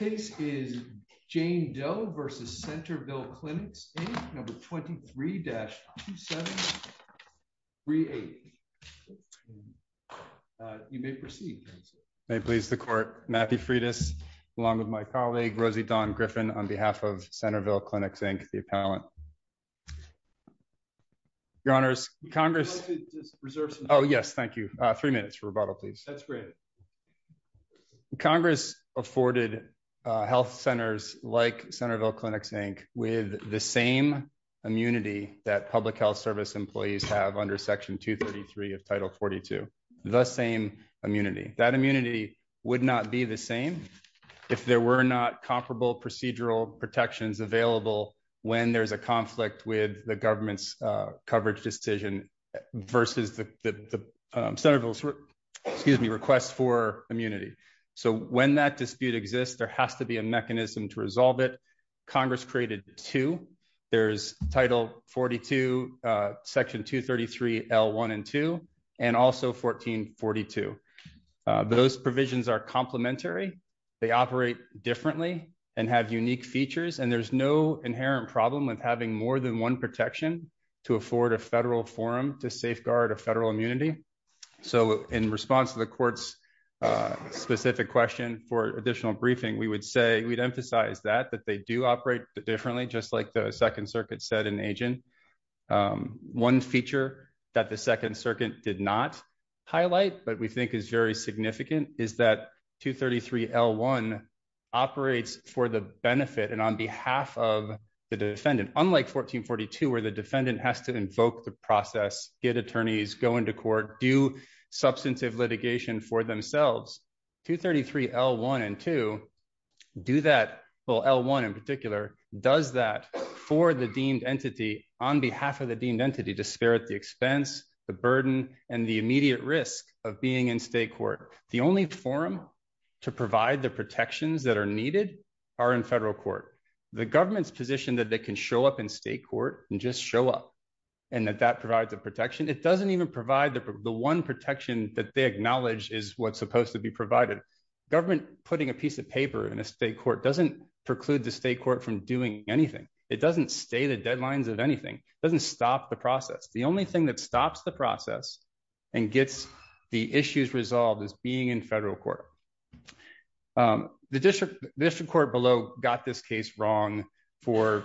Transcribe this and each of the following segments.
23-2738. You may proceed. May it please the Court, Matthew Freitas along with my colleague, Rosie Dawn Griffin, on behalf of Centerville Clinics, Inc., the appellant. Your Honors, Congress— Reserve some time. Oh yes, thank you. Three minutes for rebuttal, please. That's great. Congress afforded health centers like Centerville Clinics, Inc. with the same immunity that public health service employees have under Section 233 of Title 42, the same immunity. That immunity would not be the same if there were not comparable procedural protections available when there's a conflict with the government's coverage decision versus the request for immunity. So when that dispute exists, there has to be a mechanism to resolve it. Congress created two. There's Title 42, Section 233, L1 and 2, and also 1442. Those provisions are complementary. They operate differently and have unique features, and there's no inherent problem with having more than one protection to afford a federal forum to safeguard a federal immunity. So in response to the Court's specific question for additional briefing, we would say we'd emphasize that, that they do operate differently, just like the Second Circuit said in Agent. One feature that the Second Circuit did not highlight but we think is very significant is that 233, L1 operates for the benefit and on behalf of the defendant. Unlike 1442, where the defendant has to invoke the process, get attorneys, go into court, do substantive litigation for themselves, 233, L1 and 2 do that, well, L1 in particular does that for the deemed entity on behalf of the deemed entity to spare it the expense, the burden, and the immediate risk of being in state court. The only forum to provide the protections that are needed are in federal court. The government's position that they can show up in state court and just show up and that that provides a protection, it doesn't even provide the one protection that they acknowledge is what's supposed to be provided. Government putting a piece of paper in a state court doesn't preclude the state court from doing anything. It doesn't stay to deadlines of anything. It doesn't stop the process. The only thing that stops the process and gets the issues resolved is being in federal court. The district court below got this case wrong for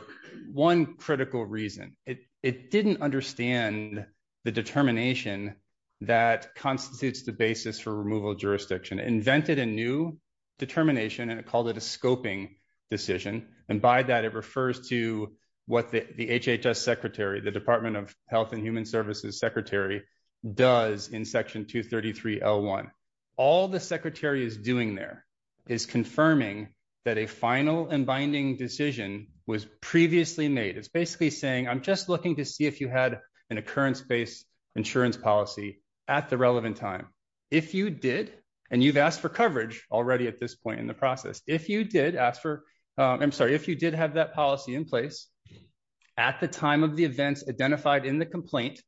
one critical reason. It didn't understand the determination that constitutes the basis for removal of jurisdiction. It invented a new determination and it called it a scoping decision. And by that, it refers to what the HHS secretary, the Department of Health and Human Services secretary does in section 233, L1. All the secretary is doing there is confirming that a final and binding decision was previously made. It's basically saying, I'm just looking to see if you had an occurrence-based insurance policy at the relevant time. If you did, and you've asked for coverage already at this point in the process, if you did ask for, I'm sorry, if you did have that policy in place at the time of the events identified in the complaint,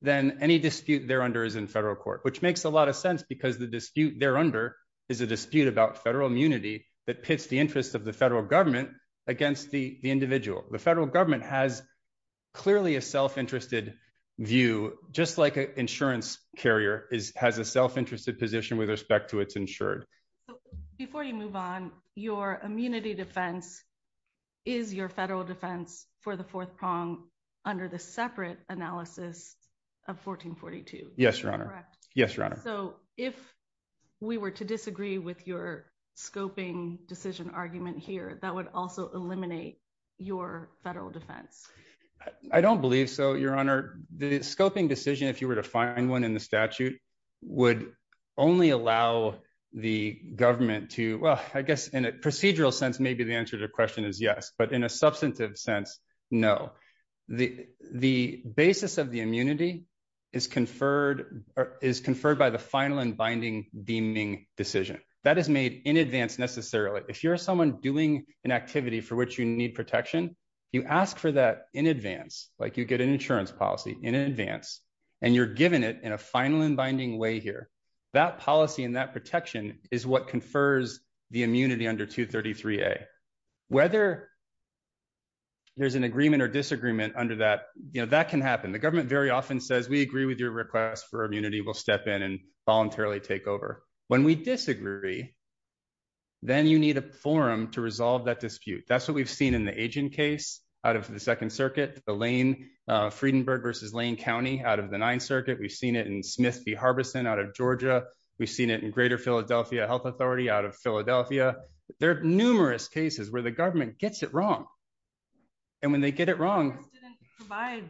then any dispute there under is in federal court, which makes a lot of sense because the dispute there under is a dispute about federal immunity that pits the interests of the federal government against the individual. The federal government has clearly a self-interested view, just like an insurance carrier has a self-interested position with respect to its insured. Before you move on, your immunity defense is your federal defense for the fourth prong under the separate analysis of 1442. Yes, Your Honor. Correct. Yes, Your Honor. If we were to disagree with your scoping decision argument here, that would also eliminate your federal defense. I don't believe so, Your Honor. The scoping decision, if you were to find one in the statute, would only allow the government to, well, I guess in a procedural sense, maybe the answer to the question is yes, but in a substantive sense, no. The basis of the immunity is conferred by the final and binding deeming decision. That is made in advance necessarily. If you're someone doing an activity for which you need protection, you ask for that in advance, like you get an insurance policy in advance, and you're given it in a final and binding way here. That policy and that protection is what confers the immunity under 233A. Whether there's an agreement or disagreement under that, that can happen. The government very often says, we agree with your request for immunity, we'll step in and voluntarily take over. When we disagree, then you need a forum to resolve that dispute. That's what we've seen in the Agin case out of the Second Circuit, the Lane, Friedenberg versus Lane County out of the Ninth Circuit. We've seen it in Smith v. Harbison out of Georgia. We've seen it in Greater Philadelphia Health Authority out of Philadelphia. There are numerous cases where the government gets it wrong. And when they get it wrong... Congress didn't provide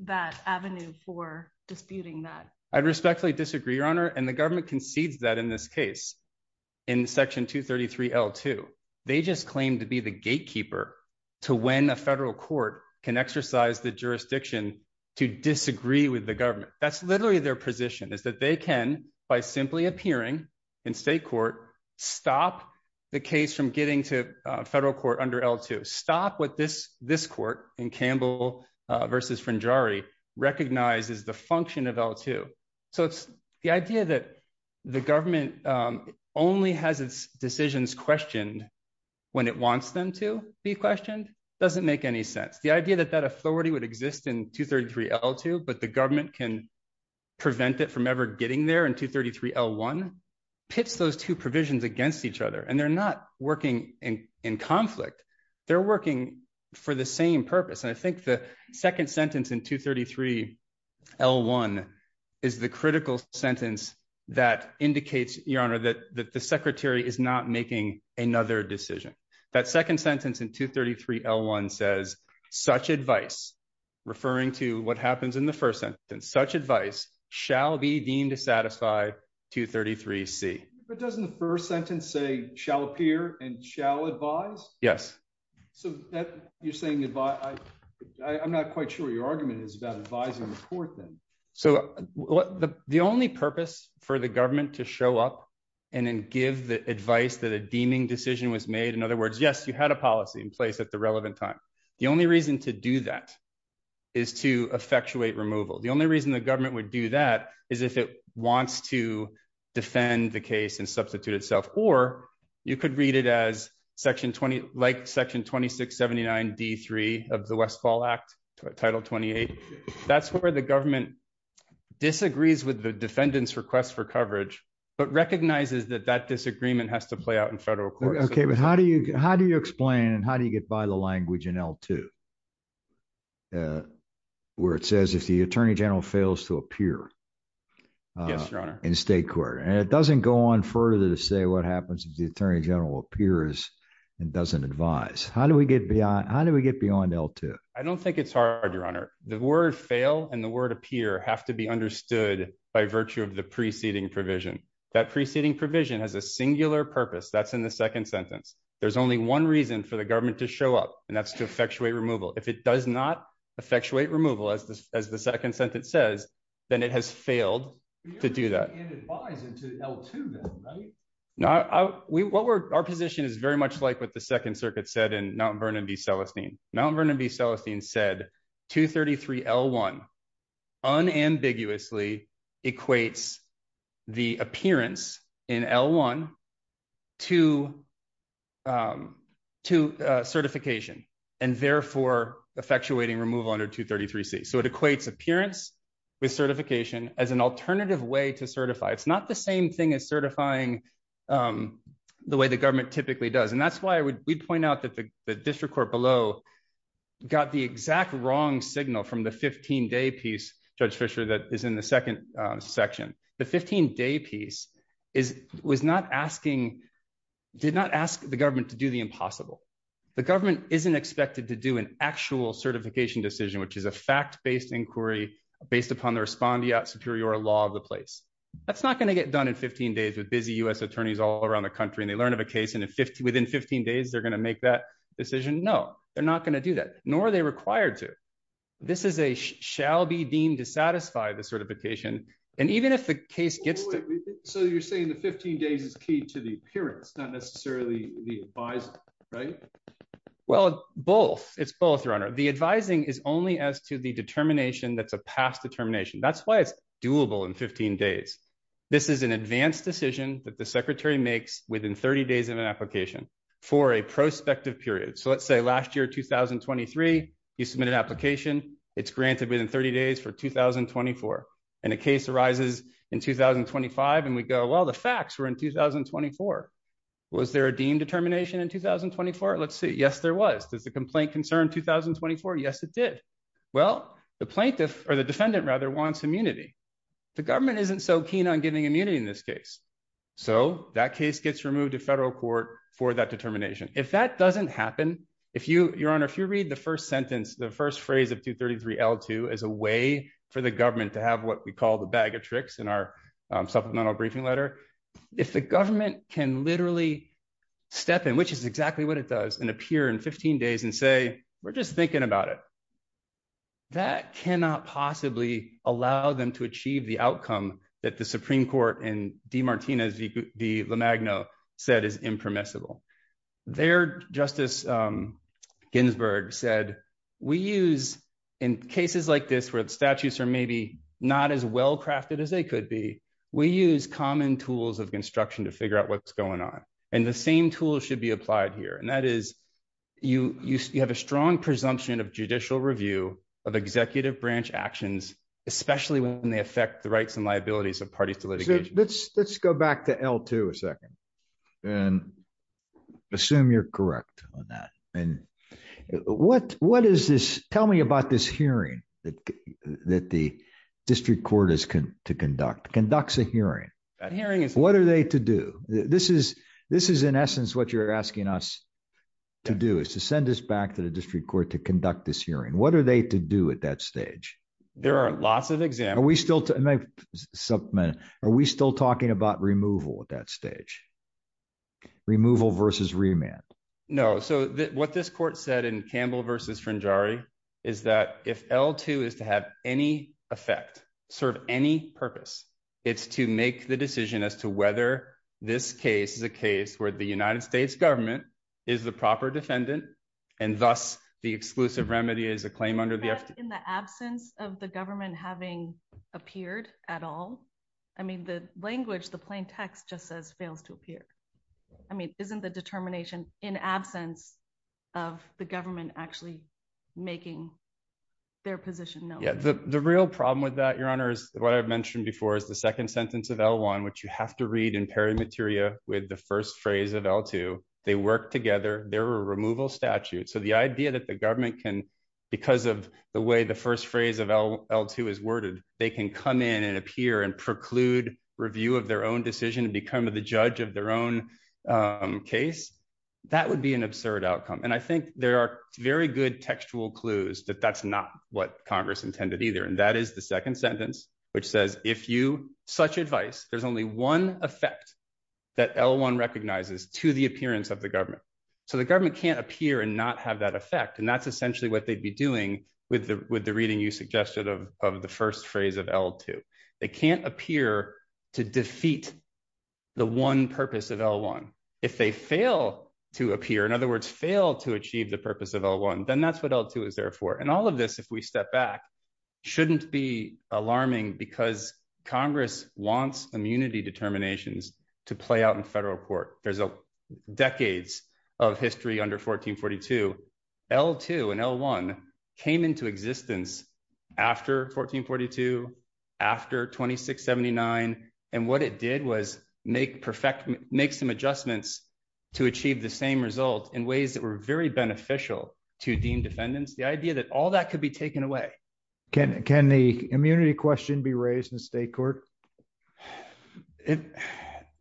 that avenue for disputing that. I respectfully disagree, Your Honor. And the government concedes that in this case, in Section 233L2. They just claim to be the gatekeeper to when a federal court can exercise the jurisdiction to disagree with the government. That's literally their position, is that they can, by simply appearing in state court, stop the case from getting to federal court under L2. Stop what this court in Campbell v. Frangiari recognizes the function of L2. So the idea that the government only has its decisions questioned when it wants them to be questioned doesn't make any sense. The idea that that authority would exist in 233L2, but the government can prevent it from ever getting there in 233L1 pits those two provisions against each other. And they're not working in conflict. They're working for the same purpose. And I think the second sentence in 233L1 is the critical sentence that indicates, Your Honor, that the secretary is not making another decision. That second sentence in 233L1 says, Such advice, referring to what happens in the first sentence, such advice shall be deemed to satisfy 233C. But doesn't the first sentence say shall appear and shall advise? Yes. So you're saying that I'm not quite sure your argument is about advising the court then. So the only purpose for the government to show up and then give the advice that a federal court has, in other words, yes, you had a policy in place at the relevant time. The only reason to do that is to effectuate removal. The only reason the government would do that is if it wants to defend the case and substitute itself. Or you could read it as Section 20, like Section 2679D3 of the West Fall Act, Title 28. That's where the government disagrees with the defendant's request for coverage, but recognizes that that disagreement has to play out in federal court. OK, but how do you how do you explain and how do you get by the language in L2, where it says if the attorney general fails to appear in state court and it doesn't go on further to say what happens if the attorney general appears and doesn't advise, how do we get beyond how do we get beyond L2? I don't think it's hard, Your Honor. The word fail and the word appear have to be understood by virtue of the preceding provision. That preceding provision has a singular purpose. That's in the second sentence. There's only one reason for the government to show up, and that's to effectuate removal. If it does not effectuate removal, as the as the second sentence says, then it has failed to do that. And it buys into L2 then, right? Now, what we're our position is very much like what the Second Circuit said in Mount Vernon v. Celestine. Mount Vernon v. Celestine said 233L1 unambiguously equates the appearance in L1 to certification and therefore effectuating removal under 233C. So it equates appearance with certification as an alternative way to certify. It's not the same thing as certifying the way the government typically does. And that's why we'd point out that the district court below got the exact wrong signal from the 15 day piece, Judge Fisher, that is in the second section. The 15 day piece was not asking, did not ask the government to do the impossible. The government isn't expected to do an actual certification decision, which is a fact based inquiry based upon the respondeat superior law of the place. That's not going to get done in 15 days with busy U.S. attorneys all around the country. And they learn of a case and within 15 days, they're going to make that decision. No, they're not going to do that, nor are they required to. This is a shall be deemed to satisfy the certification. And even if the case gets so you're saying the 15 days is key to the appearance, not necessarily the advice, right? Well, both it's both runner. The advising is only as to the determination. That's a past determination. That's why it's doable in 15 days. This is an advanced decision that the secretary makes within 30 days of an application for a prospective period. So let's say last year, 2023, you submit an application. It's granted within 30 days for 2024. And a case arises in 2025. And we go, well, the facts were in 2024. Was there a deem determination in 2024? Let's see. Yes, there was. Does the complaint concern 2024? Yes, it did. Well, the plaintiff or the defendant rather wants immunity. The government isn't so keen on giving immunity in this case. So that case gets removed to federal court for that determination. If that doesn't happen, if you your honor, if you read the first sentence, the first for the government to have what we call the bag of tricks in our supplemental briefing letter, if the government can literally step in, which is exactly what it does and appear in 15 days and say, we're just thinking about it. That cannot possibly allow them to achieve the outcome that the Supreme Court and DeMartinez, the Magno said is impermissible. Their Justice Ginsburg said we use in cases like this where the statutes are maybe not as well-crafted as they could be. We use common tools of construction to figure out what's going on. And the same tool should be applied here. And that is you have a strong presumption of judicial review of executive branch actions, especially when they affect the rights and liabilities of parties to litigation. Let's go back to L2 a second. And assume you're correct on that. And what what is this? Tell me about this hearing that that the district court is to conduct conducts a hearing hearing. What are they to do? This is this is, in essence, what you're asking us to do is to send us back to the district court to conduct this hearing. What are they to do at that stage? There are lots of exam. Are we still are we still talking about removal at that stage? Removal versus remand? No. So what this court said in Campbell versus Frangieri is that if L2 is to have any effect, serve any purpose, it's to make the decision as to whether this case is a case where the United States government is the proper defendant and thus the exclusive remedy is a claim under the in the absence of the government having appeared at all. I mean, the language, the plain text just says fails to appear. I mean, isn't the determination in absence of the government actually making their position? The real problem with that, Your Honor, is what I've mentioned before is the second sentence of L1, which you have to read in peri materia with the first phrase of L2. They work together. They're a removal statute. So the idea that the government can because of the way the first phrase of L2 is worded, they can come in and appear and preclude review of their own decision to become the judge of their own case. That would be an absurd outcome. And I think there are very good textual clues that that's not what Congress intended either. And that is the second sentence, which says, if you such advice, there's only one effect that L1 recognizes to the appearance of the government. So the government can't appear and not have that effect. And that's essentially what they'd be doing with the reading you suggested of the first phrase of L2. They can't appear to defeat the one purpose of L1. If they fail to appear, in other words, fail to achieve the purpose of L1, then that's what L2 is there for. And all of this, if we step back, shouldn't be alarming because Congress wants immunity determinations to play out in federal court. There's decades of history under 1442. L2 and L1 came into existence after 1442, after 2679. And what it did was make some adjustments to achieve the same result in ways that were very beneficial to deemed defendants. The idea that all that could be taken away. Can the immunity question be raised in state court? It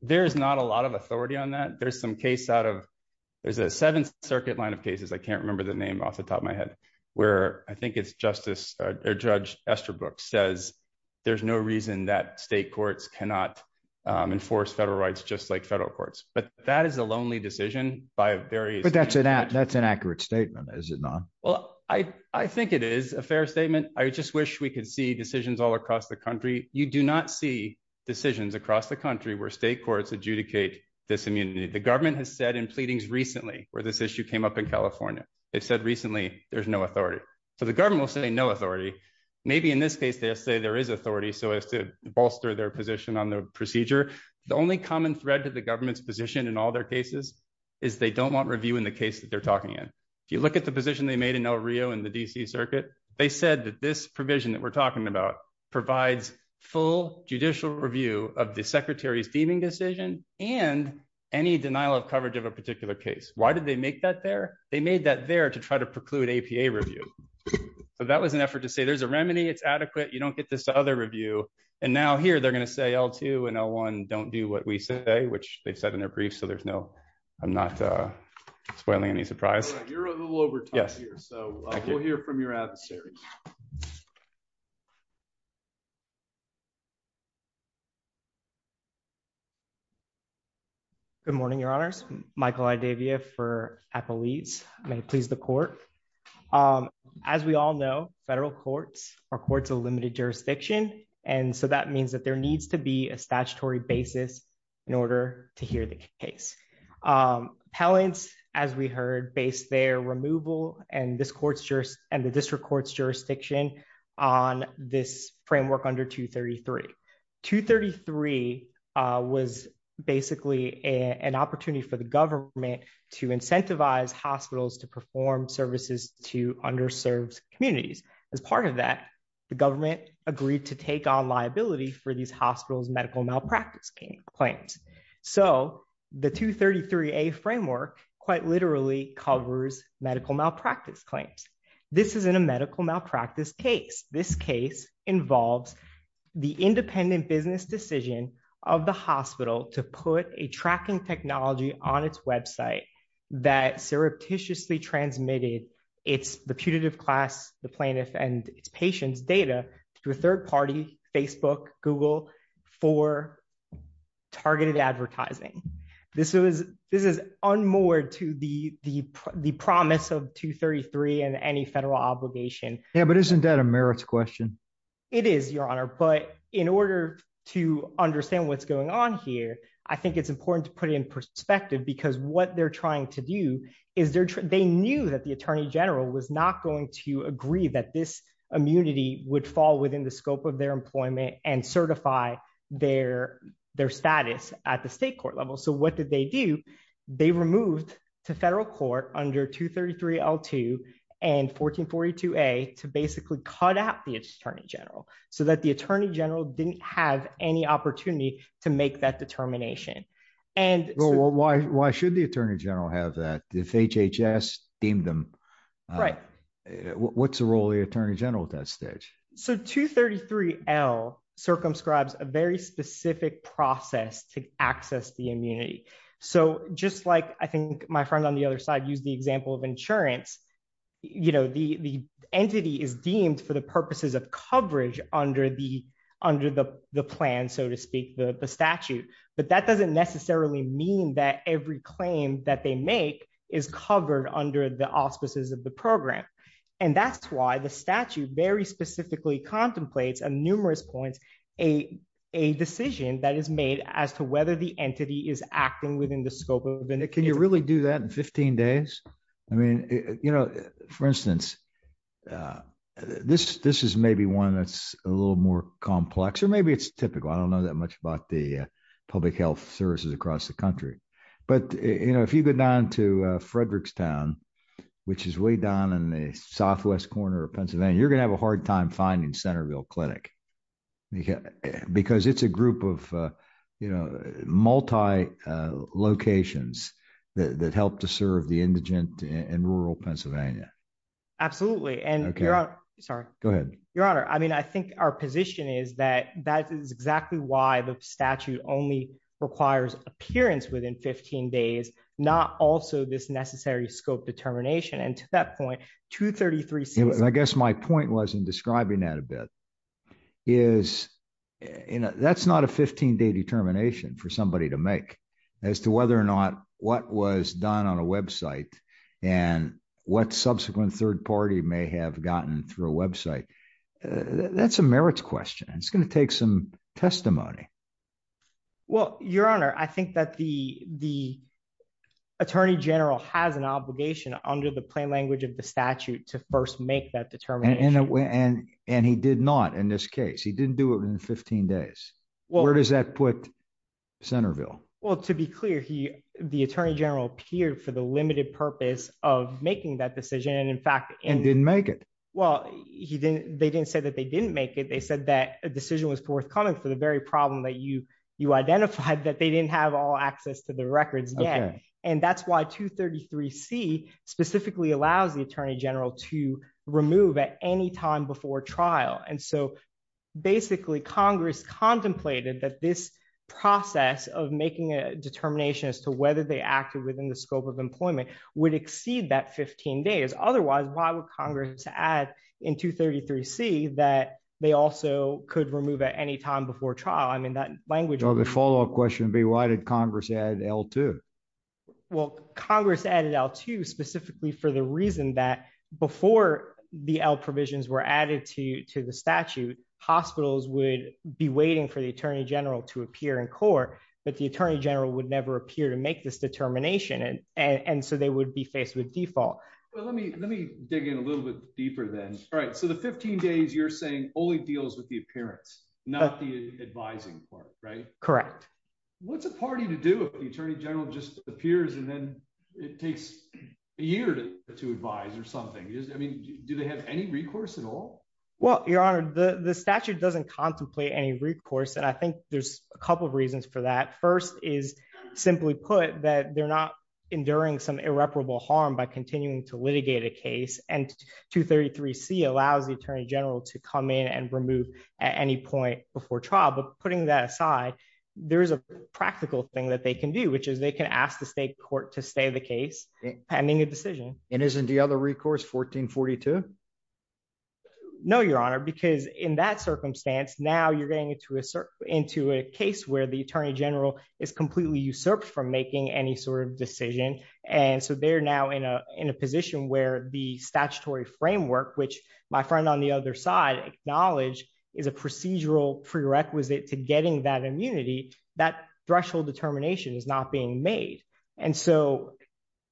there's not a lot of authority on that. There's some case out of there's a Seventh Circuit line of cases. I can't remember the name off the top of my head, where I think it's Justice Judge Esterbrook says there's no reason that state courts cannot enforce federal rights, just like federal courts. But that is a lonely decision by various. But that's an accurate statement, is it not? Well, I think it is a fair statement. I just wish we could see decisions all across the country. You do not see decisions across the country where state courts adjudicate this immunity. The government has said in pleadings recently where this issue came up in California, they said recently there's no authority. So the government will say no authority. Maybe in this case, they'll say there is authority so as to bolster their position on the procedure. The only common thread to the government's position in all their cases is they don't want review in the case that they're talking in. If you look at the position they made in El Rio and the D.C. full judicial review of the secretary's deeming decision and any denial of coverage of a particular case. Why did they make that there? They made that there to try to preclude APA review. So that was an effort to say there's a remedy. It's adequate. You don't get this other review. And now here they're going to say L2 and L1 don't do what we say, which they've said in their briefs. So there's no I'm not spoiling any surprise. You're a little over here. So we'll hear from your adversaries. Good morning, Your Honors. Michael Idavia for APA leads may please the court. As we all know, federal courts are courts of limited jurisdiction. And so that means that there needs to be a statutory basis in order to hear the case. Appellants, as we heard, based their removal and the district court's jurisdiction on this framework under 233. 233 was basically an opportunity for the government to incentivize hospitals to perform services to underserved communities. As part of that, the government agreed to take on liability for these hospitals medical malpractice claims. So the 233 a framework quite literally covers medical malpractice claims. This is in a medical malpractice case. This case involves the independent business decision of the hospital to put a tracking technology on its website that surreptitiously transmitted. It's the putative class, the plaintiff and its patients data to a third party, Facebook, Google, for targeted advertising. This is this is unmoored to the promise of 233 and any federal obligation. Yeah, but isn't that a merits question? It is, Your Honor. But in order to understand what's going on here, I think it's important to put in perspective, because what they're trying to do is they're they knew that the Attorney General was not going to agree that this immunity would fall within the scope of their employment. And certify their their status at the state court level. So what did they do? They removed to federal court under 233 L2 and 1442 a to basically cut out the Attorney General so that the Attorney General didn't have any opportunity to make that determination. And why should the Attorney General have that if HHS deemed them right? What's the role of the Attorney General at that stage? So 233 L circumscribes a very specific process to access the immunity. So just like I think my friend on the other side used the example of insurance, you know, the entity is deemed for the purposes of coverage under the under the plan, so to speak, the statute. But that doesn't necessarily mean that every claim that they make is covered under the auspices of the program. And that's why the statute very specifically contemplates a numerous points, a a decision that is made as to whether the entity is acting within the scope of it. Can you really do that in 15 days? I mean, you know, for instance, this this is maybe one that's a little more complex, or maybe it's typical. I don't know that much about the public health services across the country. But, you know, if you go down to Frederickstown, which is way down in the southwest corner of Pennsylvania, you're gonna have a hard time finding Centerville Clinic. Because it's a group of, you know, multi locations that help to serve the indigent and rural Pennsylvania. Absolutely. And sorry, go ahead, Your Honor. I mean, I think our position is that that is exactly why the statute only requires appearance within 15 days, not also this necessary scope determination. And to that point, 233. I guess my point was in describing that a bit is, you know, that's not a 15 day determination for somebody to make as to whether or not what was done on a website and what subsequent third party may have gotten through a website. That's a merits question. And it's going to take some testimony. Well, Your Honor, I think that the the attorney general has an obligation under the plain language of the statute to first make that determination. And he did not in this case, he didn't do it in 15 days. Well, where does that put Centerville? Well, to be clear, he, the attorney general appeared for the limited purpose of making that decision. And in fact, he didn't make it. Well, he didn't. They didn't say that they didn't make it. They said that a decision was forthcoming for the very problem that you you identified that they didn't have all access to the records yet. And that's why 233 C specifically allows the attorney general to remove at any time before trial. And so basically, Congress contemplated that this process of making a determination as to whether they acted within the scope of employment would exceed that 15 days. Otherwise, why would Congress add in 233 C that they also could remove at any time before trial? I mean, that language or the follow up question would be, why did Congress add L2? Well, Congress added L2 specifically for the reason that before the L provisions were added to to the statute, hospitals would be waiting for the attorney general to appear in court, but the attorney general would never appear to make this determination. And so they would be faced with default. Well, let me let me dig in a little bit deeper then. All right. So the 15 days you're saying only deals with the appearance, not the advising part, right? Correct. What's a party to do if the attorney general just appears and then it takes a year to advise or something? I mean, do they have any recourse at all? Well, Your Honor, the statute doesn't contemplate any recourse. And I think there's a couple of reasons for that. First is simply put that they're not enduring some irreparable harm by continuing to litigate a case. And 233 C allows the attorney general to come in and remove at any point before trial. But putting that aside, there is a practical thing that they can do, which is they can ask the state court to stay the case pending a decision. And isn't the other recourse 1442? No, Your Honor, because in that circumstance, now you're getting into a into a case where the attorney general is completely usurped from making any sort of decision. And so they're now in a position where the statutory framework, which my friend on the other side acknowledge is a procedural prerequisite to getting that immunity. That threshold determination is not being made. And so,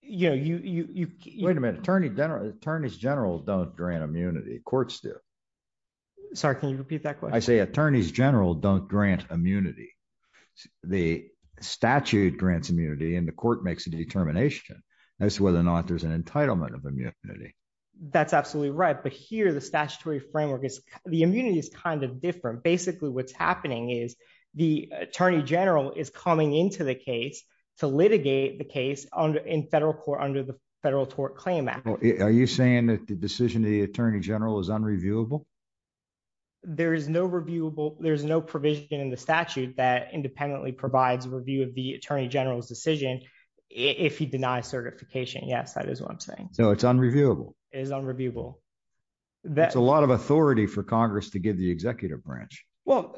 you know, you wait a minute. Attorney general attorneys general don't grant immunity. Courts do. Sorry, can you repeat that? I say attorneys general don't grant immunity. The statute grants immunity and the court makes a determination as to whether or not there's an entitlement of immunity. That's absolutely right. But here the statutory framework is the immunity is kind of different. Basically, what's happening is the attorney general is coming into the case to litigate the case in federal court under the Federal Tort Claim Act. Are you saying that the decision of the attorney general is unreviewable? There is no reviewable. There's no provision in the statute that independently provides a review of the attorney general's decision if he denies certification. Yes, that is what I'm saying. So it's unreviewable is unreviewable. That's a lot of authority for Congress to give the executive branch. Well,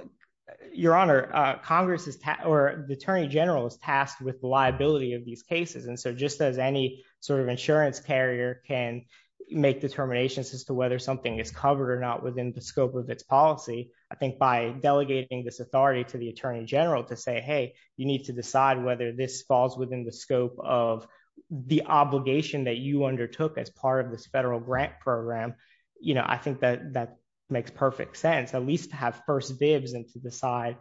your honor, Congress is or the attorney general is tasked with the liability of these cases. And so just as any sort of insurance carrier can make determinations as to whether something is covered or not within the scope of its policy, I think by delegating this authority to the attorney general to say, hey, you need to decide whether this falls within the scope of the obligation that you undertook as part of this federal grant program. You know, I think that that makes perfect sense, at least to have first dibs and to decide,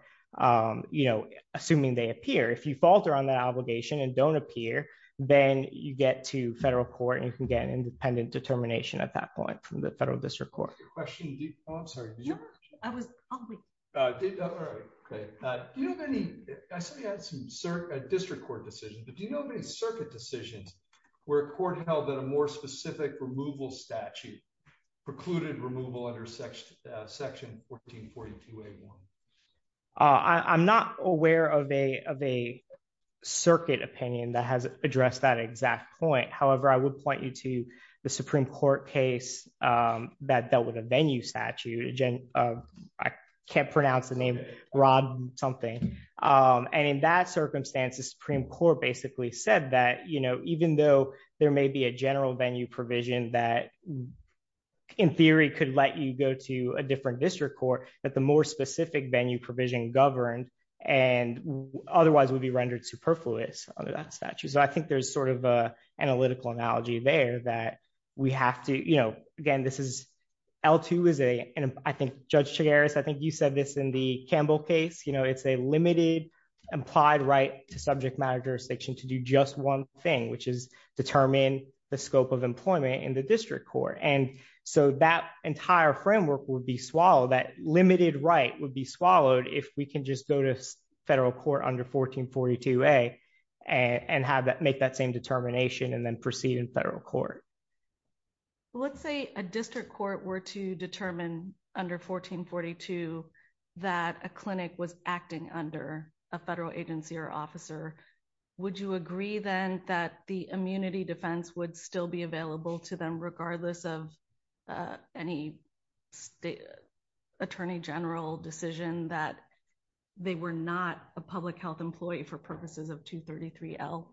you know, assuming they appear. If you falter on that obligation and don't appear, then you get to federal court and you can get an independent determination at that point from the federal district court. Your question, I'm sorry. No, I was, I'll read it. All right. Okay. Do you have any, I saw you had some district court decisions, but do you know of any circuit decisions where a court held that a more specific removal statute precluded removal under section 1442A1? I'm not aware of a of a circuit opinion that has addressed that exact point. However, I would point you to the Supreme Court case that dealt with a venue statute. I can't pronounce the name, Rob something. And in that circumstance, the Supreme Court basically said that, you know, even though there may be a general venue provision that in theory could let you go to a different district court, that the more specific venue provision governed and otherwise would be rendered superfluous under that statute. So I think there's sort of a analytical analogy there that we have to, you know, again, this is L2 is a, and I think Judge Chigares, I think you said this in the Campbell case, you know, it's a limited implied right to subject matter jurisdiction to do just one thing, which is determine the scope of employment in the district court. And so that entire framework would be swallowed, that limited right would be swallowed if we can just go to federal court under 1442A and have that make that same determination and then proceed in federal court. Let's say a district court were to determine under 1442 that a clinic was acting under a federal agency or officer. Would you agree then that the immunity defense would still be available to them regardless of any attorney general decision that they were not a public health employee for purposes of 233L?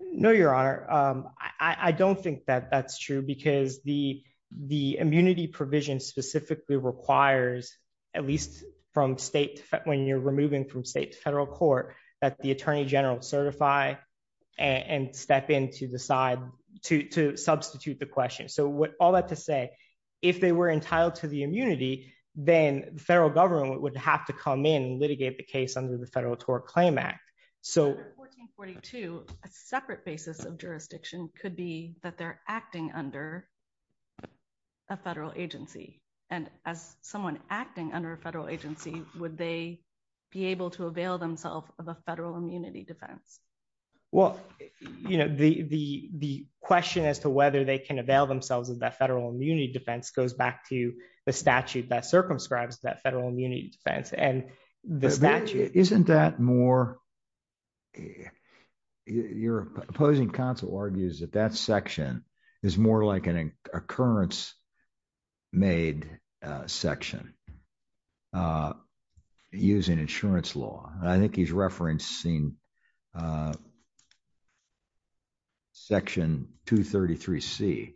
No, Your Honor, I don't think that that's true, because the immunity provision specifically requires, at least from state, when you're removing from state to federal court, that the attorney general certify and step in to decide to substitute the question. With all that to say, if they were entitled to the immunity, then the federal government would have to come in and litigate the case under the Federal Tort Claim Act. So under 1442, a separate basis of jurisdiction could be that they're acting under a federal agency. And as someone acting under a federal agency, would they be able to avail themselves of a federal immunity defense? Well, the question as to whether they can avail themselves of that federal immunity defense goes back to the statute that circumscribes that federal immunity defense and the statute. Isn't that more, your opposing counsel argues that that section is more like an occurrence made section using insurance law. I think he's referencing Section 233C.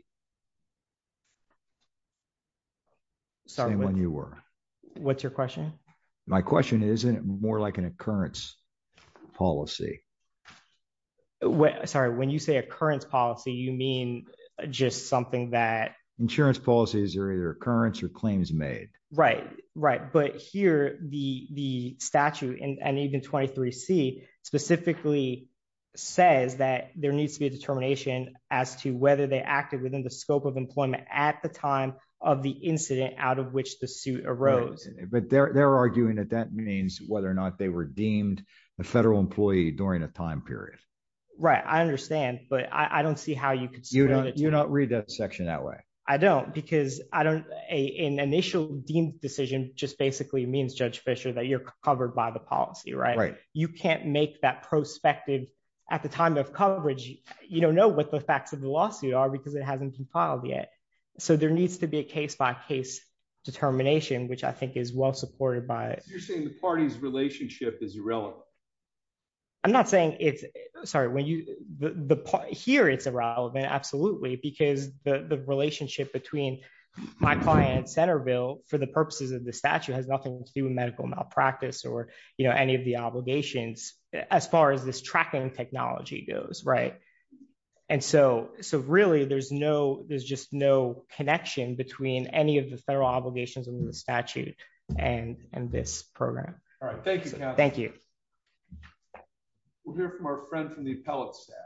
Sorry, what's your question? My question is, isn't it more like an occurrence policy? Sorry, when you say occurrence policy, you mean just something that... Insurance policies are either occurrence or claims made. Right, right. But here, the statute and even 23C specifically says that there needs to be a determination as to whether they acted within the scope of employment at the time of the incident out of which the suit arose. But they're arguing that that means whether or not they were deemed a federal employee during a time period. Right, I understand. But I don't see how you could... You don't read that section that way. I don't because an initial deemed decision just basically means, Judge Fischer, that you're covered by the policy, right? Right. You can't make that prospective at the time of coverage. You don't know what the facts of the lawsuit are because it hasn't been filed yet. So there needs to be a case by case determination, which I think is well supported by... You're saying the party's relationship is irrelevant. I'm not saying it's... Here, it's irrelevant. Absolutely. Because the relationship between my client, Centerville, for the purposes of the statute has nothing to do with medical malpractice or any of the obligations as far as this tracking technology goes, right? And so really, there's just no connection between any of the federal obligations under the statute and this program. All right. Thank you. Thank you. We'll hear from our friend from the appellate staff.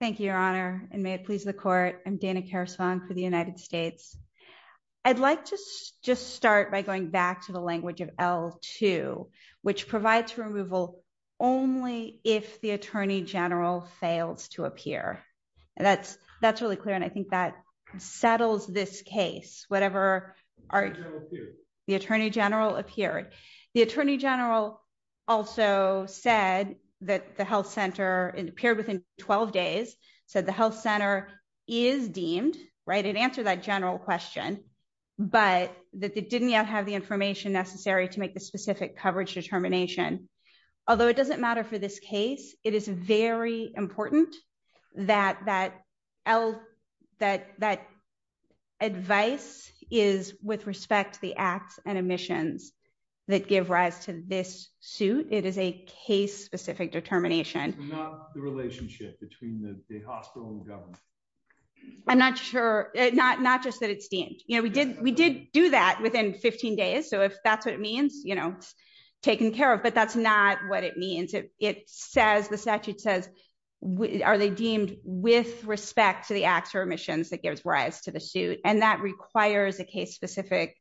Thank you, Your Honor, and may it please the court. I'm Dana Karasvon for the United States. I'd like to just start by going back to the language of L2, which provides removal only if the attorney general fails to appear. That's really clear, and I think that settles this case, whatever... The attorney general appeared. The attorney general also said that the health center, it appeared within 12 days, said the health center is deemed, right? It answered that general question, but that they didn't yet have the information necessary to make the specific coverage determination. Although it doesn't matter for this case, it is very important that advice is with respect to the acts and omissions that give rise to this suit. It is a case-specific determination. Not the relationship between the hospital and government. I'm not sure. Not just that it's deemed. We did do that within 15 days, so if that's what it means, it's taken care of. That's not what it means. The statute says, are they deemed with respect to the acts or omissions that gives rise to the suit? That requires a case-specific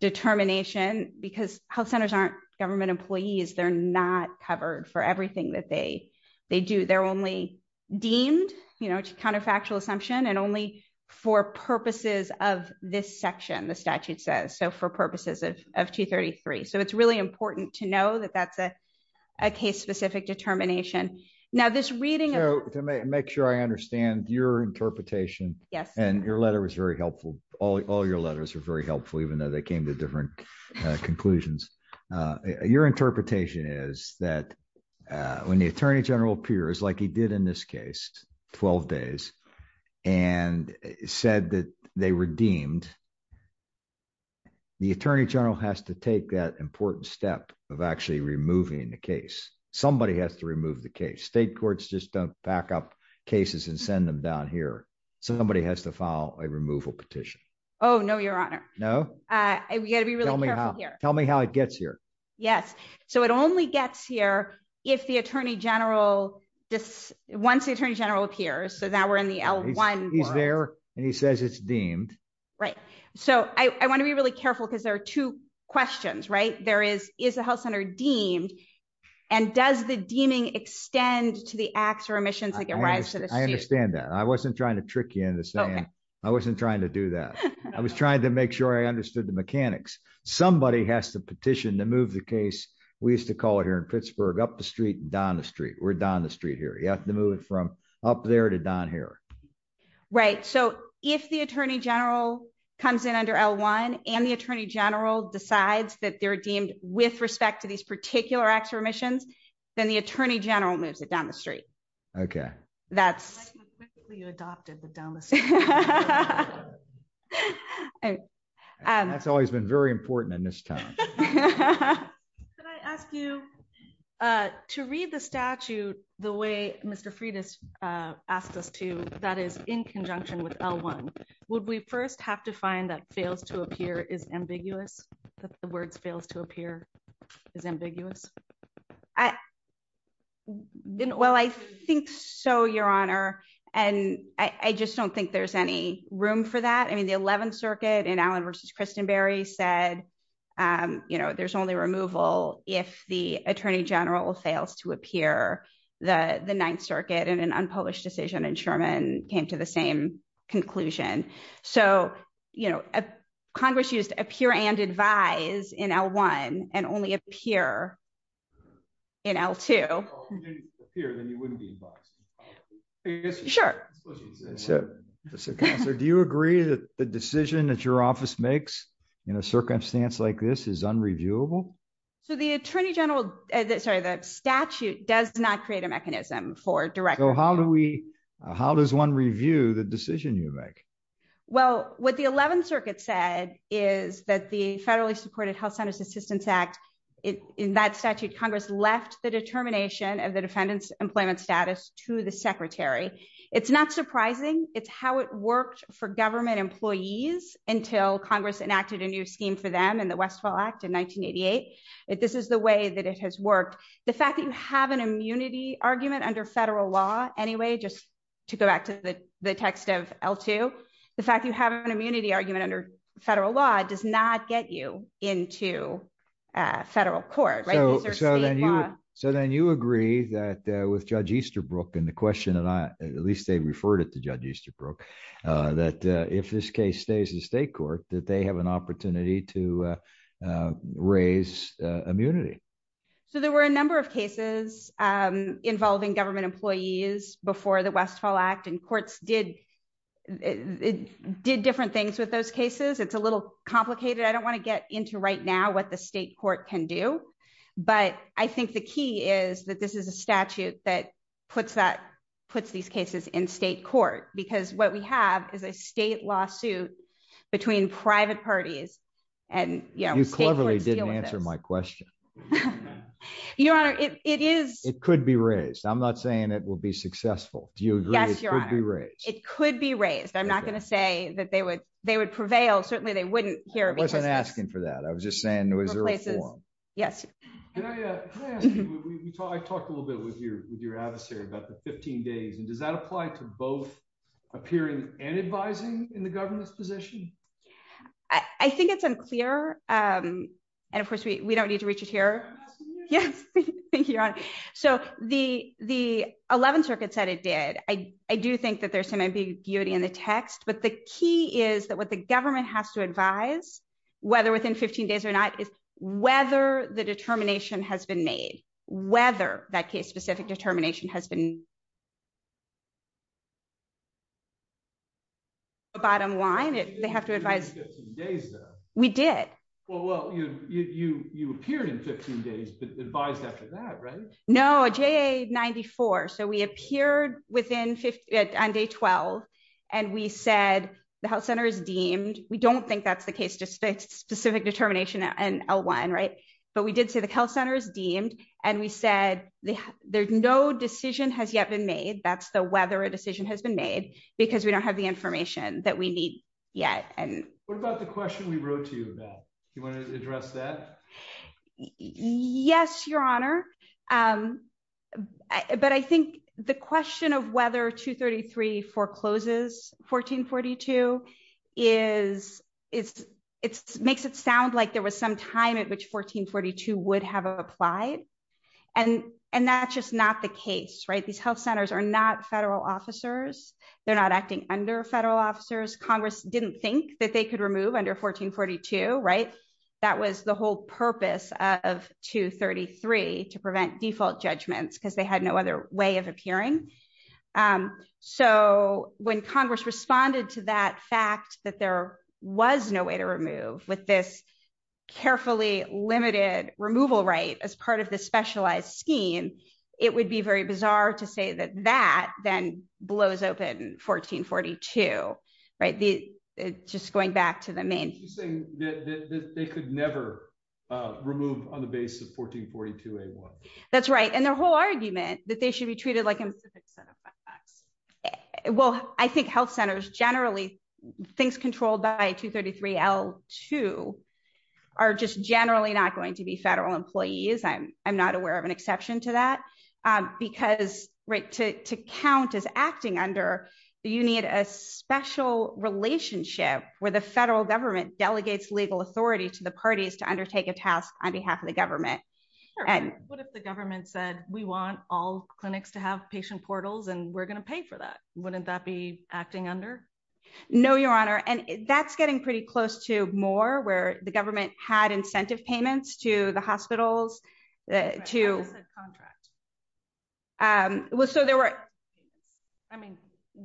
determination because health centers aren't government employees. They're not covered for everything that they do. They're only deemed counterfactual assumption and only for purposes of this section, the statute says, so for purposes of 233. It's really important to know that that's a case-specific determination. Make sure I understand your interpretation and your letter was very helpful. All your letters are very helpful, even though they came to different conclusions. Your interpretation is that when the attorney general appears, like he did in this case, 12 days, and said that they were deemed, the attorney general has to take that important step of actually removing the case. Somebody has to remove the case. State courts just don't back up cases and send them down here. Somebody has to file a removal petition. Oh, no, your honor. No? You got to be really careful here. Tell me how it gets here. Yes, so it only gets here if the attorney general, once the attorney general appears, so now we're in the L1. He's there and he says it's deemed. Right. So I want to be really careful because there are two questions, right? There is, is the health center deemed and does the deeming extend to the acts or omissions that get raised to the state? I understand that. I wasn't trying to trick you into saying, I wasn't trying to do that. I was trying to make sure I understood the mechanics. Somebody has to petition to move the case. We used to call it here in Pittsburgh, up the street, down the street. We're down the street here. You have to move it from up there to down here. Right. So if the attorney general comes in under L1 and the attorney general decides that they're deemed with respect to these particular acts or omissions, then the attorney general moves it down the street. Okay. That's. You adopted the down the street. That's always been very important in this town. Can I ask you to read the statute the way Mr. Freitas asked us to, that is in conjunction with L1, would we first have to find that fails to appear is ambiguous? That the words fails to appear is ambiguous. I didn't. Well, I think so, Your Honor. And I just don't think there's any room for that. I mean, the 11th Circuit in Allen versus Christenberry said, you know, there's only removal if the attorney general fails to appear the 9th Circuit in an unpublished decision. And Sherman came to the same conclusion. So, you know, Congress used appear and advise in L1 and only appear in L2. If you didn't appear, then you wouldn't be advised. Sure. Do you agree that the decision that your office makes in a circumstance like this is unreviewable? So the attorney general, sorry, the statute does not create a mechanism for direct. So how do we, how does one review the decision you make? Well, what the 11th Circuit said is that the federally supported Health Centers Assistance Act, in that statute, Congress left the determination of the defendant's employment status to the secretary. It's not surprising. It's how it worked for government employees until Congress enacted a new scheme for them in the Westfall Act in 1988. This is the way that it has worked. The fact that you have an immunity argument under federal law anyway, just to go back to the text of L2, the fact you have an immunity argument under federal law does not get you into federal court. So then you agree that with Judge Easterbrook and the question that I, at least they referred it to Judge Easterbrook, that if this case stays in state court, that they have an opportunity to raise immunity. So there were a number of cases involving government employees before the Westfall Act and courts did different things with those cases. It's a little complicated. I don't want to get into right now what the state court can do. But I think the key is that this is a statute that puts these cases in state court, because what we have is a state lawsuit between private parties and state courts deal with this. You cleverly didn't answer my question. Your Honor, it is... It could be raised. I'm not saying it will be successful. Do you agree it could be raised? It could be raised. I'm not going to say that they would prevail. Certainly, they wouldn't here. I wasn't asking for that. I was just saying, was there a forum? Yes. I talked a little bit with your adversary about the 15 days. And does that apply to both appearing and advising in the government's position? I think it's unclear. And of course, we don't need to reach it here. Yes, Your Honor. So the 11th Circuit said it did. I do think that there's some ambiguity in the text. But the key is that what the government has to advise, whether within 15 days or not, is whether the determination has been made, whether that case-specific determination has been... Bottom line, they have to advise... We did. Well, you appeared in 15 days, but advised after that, right? No, JA94. So we appeared on day 12, and we said the health center is deemed. We don't think that's the case, just the specific determination and L1, right? But we did say the health center is deemed. And we said no decision has yet been made. That's the whether a decision has been made, because we don't have the information that we need yet. And what about the question we wrote to you about? Do you want to address that? Yes, Your Honor. But I think the question of whether 233 forecloses 1442 makes it sound like there was some time at which 1442 would have applied. And that's just not the case, right? These health centers are not federal officers. They're not acting under federal officers. Congress didn't think that they could remove under 1442, right? That was the whole purpose of 233, to prevent default judgments, because they had no other way of appearing. So when Congress responded to that fact that there was no way to remove with this carefully limited removal right as part of the specialized scheme, it would be very bizarre to say that that then blows open 1442, right? Just going back to the main thing that they could never remove on the basis of 1442. That's right. And their whole argument that they should be treated like a specific set of facts. Well, I think health centers generally things controlled by 233 L two are just generally not going to be federal employees. I'm not aware of an exception to that. Because right to count as acting under, you need a special relationship where the federal government delegates legal authority to the parties to undertake a task on behalf of the government. What if the government said, we want all clinics to have patient portals, and we're going to pay for that? Wouldn't that be acting under? No, Your Honor. And that's getting pretty close to more where the government had incentive payments to the Um, well, so there were, I mean,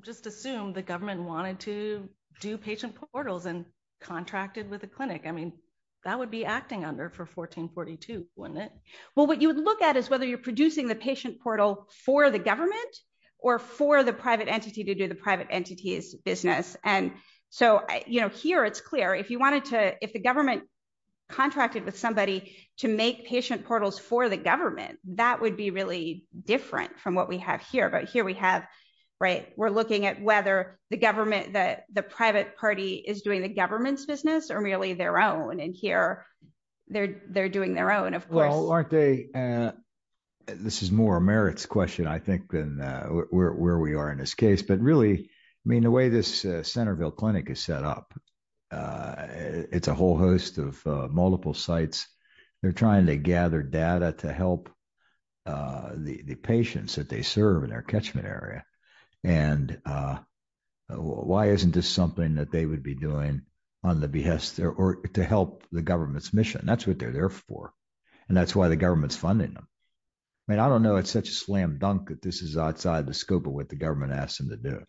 just assume the government wanted to do patient portals and contracted with a clinic. I mean, that would be acting under for 1442, wouldn't it? Well, what you would look at is whether you're producing the patient portal for the government, or for the private entity to do the private entities business. And so, you know, here, it's clear if you wanted to, if the government contracted with to make patient portals for the government, that would be really different from what we have here. But here we have, right, we're looking at whether the government that the private party is doing the government's business or merely their own. And here, they're, they're doing their own, of course, aren't they? This is more merits question, I think, where we are in this case. But really, I mean, the way this Centerville Clinic is set up, it's a whole host of multiple sites, they're trying to gather data to help the patients that they serve in our catchment area. And why isn't this something that they would be doing on the behest or to help the government's mission? That's what they're there for. And that's why the government's funding them. I mean, I don't know, it's such a slam dunk that this is outside the scope of what the government asked them to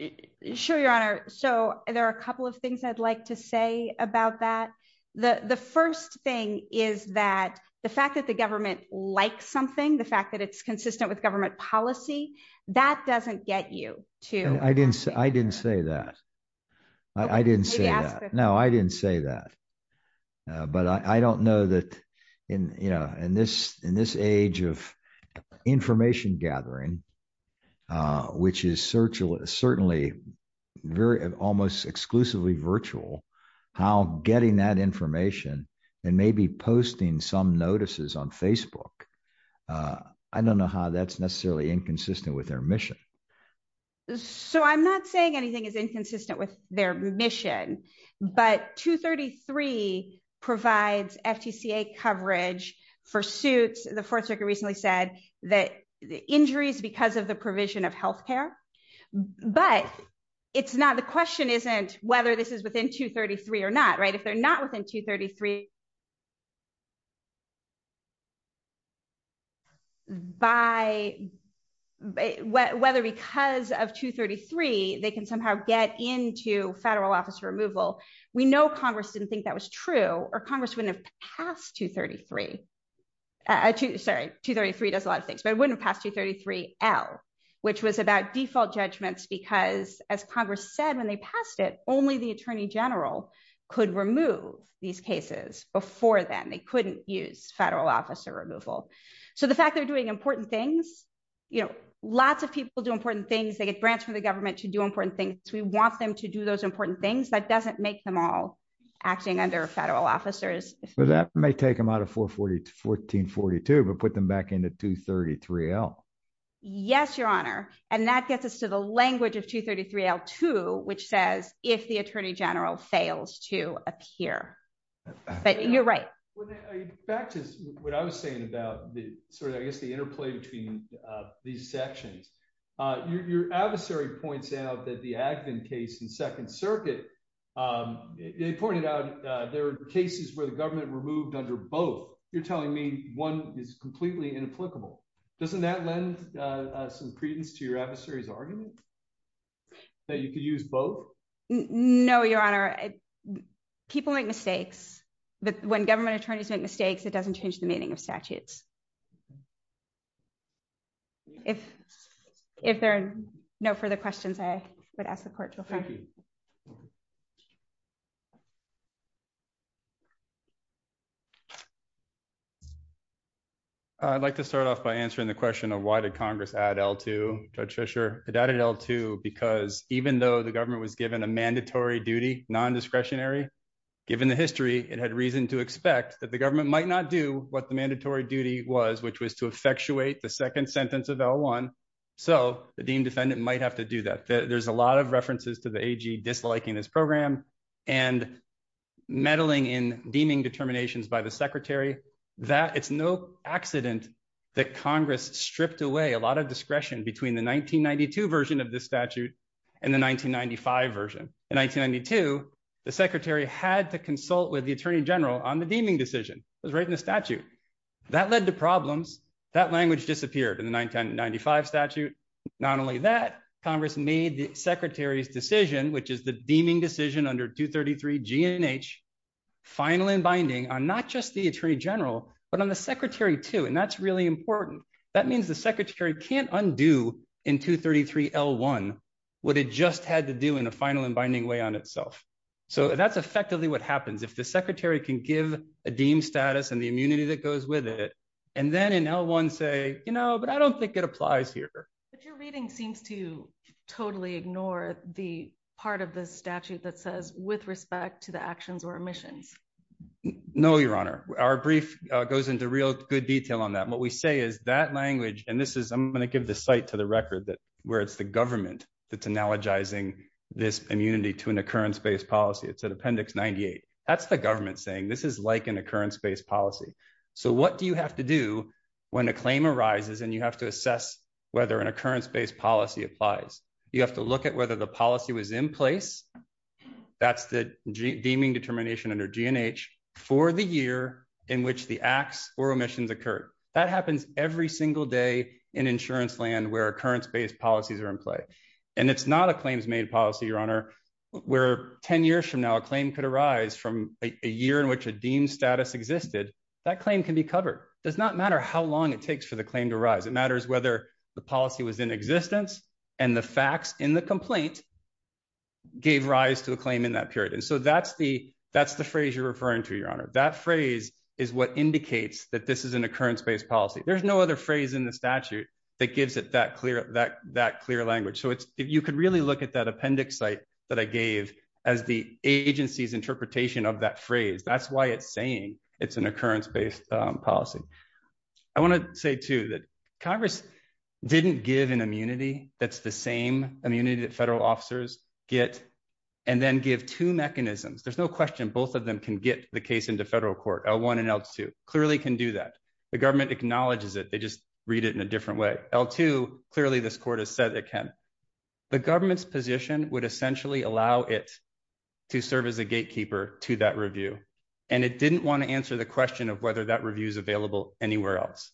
do. Sure, Your Honor. So there are a couple of things I'd like to say about that. The first thing is that the fact that the government likes something, the fact that it's consistent with government policy, that doesn't get you to... I didn't, I didn't say that. I didn't say that. No, I didn't say that. But I don't know that in, you know, in this, in this age of information gathering, which is certainly very, almost exclusively virtual, how getting that information and maybe posting some notices on Facebook, I don't know how that's necessarily inconsistent with their mission. So I'm not saying anything is inconsistent with their mission, but 233 provides FTCA coverage for suits. The Fourth Circuit recently said that the injuries because of the provision of health care, but it's not, the question isn't whether this is within 233 or not, right? If they're not within 233, by, whether because of 233, they can somehow get into federal office removal. We know Congress didn't think that was true, or Congress wouldn't have passed 233. Sorry, 233 does a lot of things, but it wouldn't pass 233L, which was about default judgments, because as Congress said, when they passed it, only the attorney general could remove these cases before then. They couldn't use federal officer removal. So the fact they're doing important things, you know, lots of people do important things. They get grants from the government to do important things. We want them to do those important things. That doesn't make them all acting under federal officers. Well, that may take them out of 41442, but put them back into 233L. Yes, Your Honor. And that gets us to the language of 233L2, which says if the attorney general fails to appear, but you're right. Back to what I was saying about the sort of, I guess, the interplay between these sections, your adversary points out that the Advin case in Second Circuit, they pointed out there were cases where the government removed under both. You're telling me one is completely inapplicable. Doesn't that lend some credence to your adversary's argument that you could use both? No, Your Honor. People make mistakes, but when government attorneys make mistakes, it doesn't change the meaning of statutes. If there are no further questions, I would ask the court to affirm. Thank you. I'd like to start off by answering the question of why did Congress add L2, Judge Fisher? It added L2 because even though the government was given a mandatory duty, non-discretionary, given the history, it had reason to expect that the government might not do what the mandatory duty was, which was to effectuate the second sentence of L1. So the deemed defendant might have to do that. There's a lot of references to the AG disliking this program and meddling in deeming determinations by the Secretary. It's no accident that Congress stripped away a lot of discretion between the 1992 version of this statute and the 1995 version. In 1992, the Secretary had to consult with the Attorney General on the deeming decision. It was right in the statute. That led to problems. That language disappeared in the 1995 statute. Not only that, Congress made the Secretary's decision, which is the deeming decision under 233 G and H, final and binding on not just the Attorney General, but on the Secretary too, and that's really important. That means the Secretary can't undo in 233 L1 what it just had to do in a final and binding way on itself. So that's effectively what happens. If the Secretary can give a deemed status and the immunity that goes with it, and then L1 say, you know, but I don't think it applies here. But your reading seems to totally ignore the part of the statute that says with respect to the actions or omissions. No, Your Honor. Our brief goes into real good detail on that. What we say is that language, and this is, I'm going to give the site to the record that where it's the government that's analogizing this immunity to an occurrence-based policy. It's at Appendix 98. That's the government saying this is like an occurrence-based policy. So what do you have to do when a claim arises and you have to assess whether an occurrence-based policy applies? You have to look at whether the policy was in place. That's the deeming determination under G and H for the year in which the acts or omissions occurred. That happens every single day in insurance land where occurrence-based policies are in play. And it's not a claims-made policy, Your Honor, where 10 years from now, a claim could arise from a year in which a deemed status existed. That claim can be covered. Does not matter how long it takes for the claim to arise. It matters whether the policy was in existence and the facts in the complaint gave rise to a claim in that period. And so that's the phrase you're referring to, Your Honor. That phrase is what indicates that this is an occurrence-based policy. There's no other phrase in the statute that gives it that clear language. You could really look at that appendix site that I gave as the agency's interpretation of that phrase. That's why it's saying it's an occurrence-based policy. I want to say, too, that Congress didn't give an immunity that's the same immunity that federal officers get and then give two mechanisms. There's no question both of them can get the case into federal court, L1 and L2. Clearly can do that. The government acknowledges it. They just read it in a different way. L2, clearly this court has said it can. The government's position would essentially allow it to serve as a gatekeeper to that review. And it didn't want to answer the question of whether that review is available anywhere else.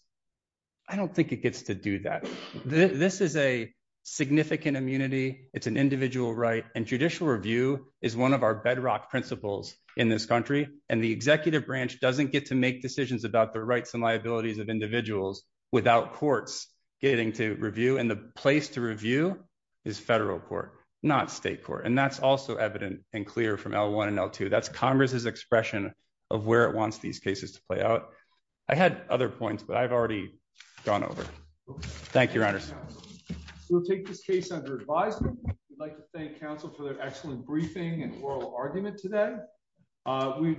I don't think it gets to do that. This is a significant immunity. It's an individual right. And judicial review is one of our bedrock principles in this country. And the executive branch doesn't get to make decisions about the rights and liabilities of individuals without courts getting to review. And the place to review is federal court, not state court. And that's also evident and clear from L1 and L2. That's Congress's expression of where it wants these cases to play out. I had other points, but I've already gone over. Thank you, Your Honors. We'll take this case under advisement. We'd like to thank counsel for their excellent briefing and oral argument today.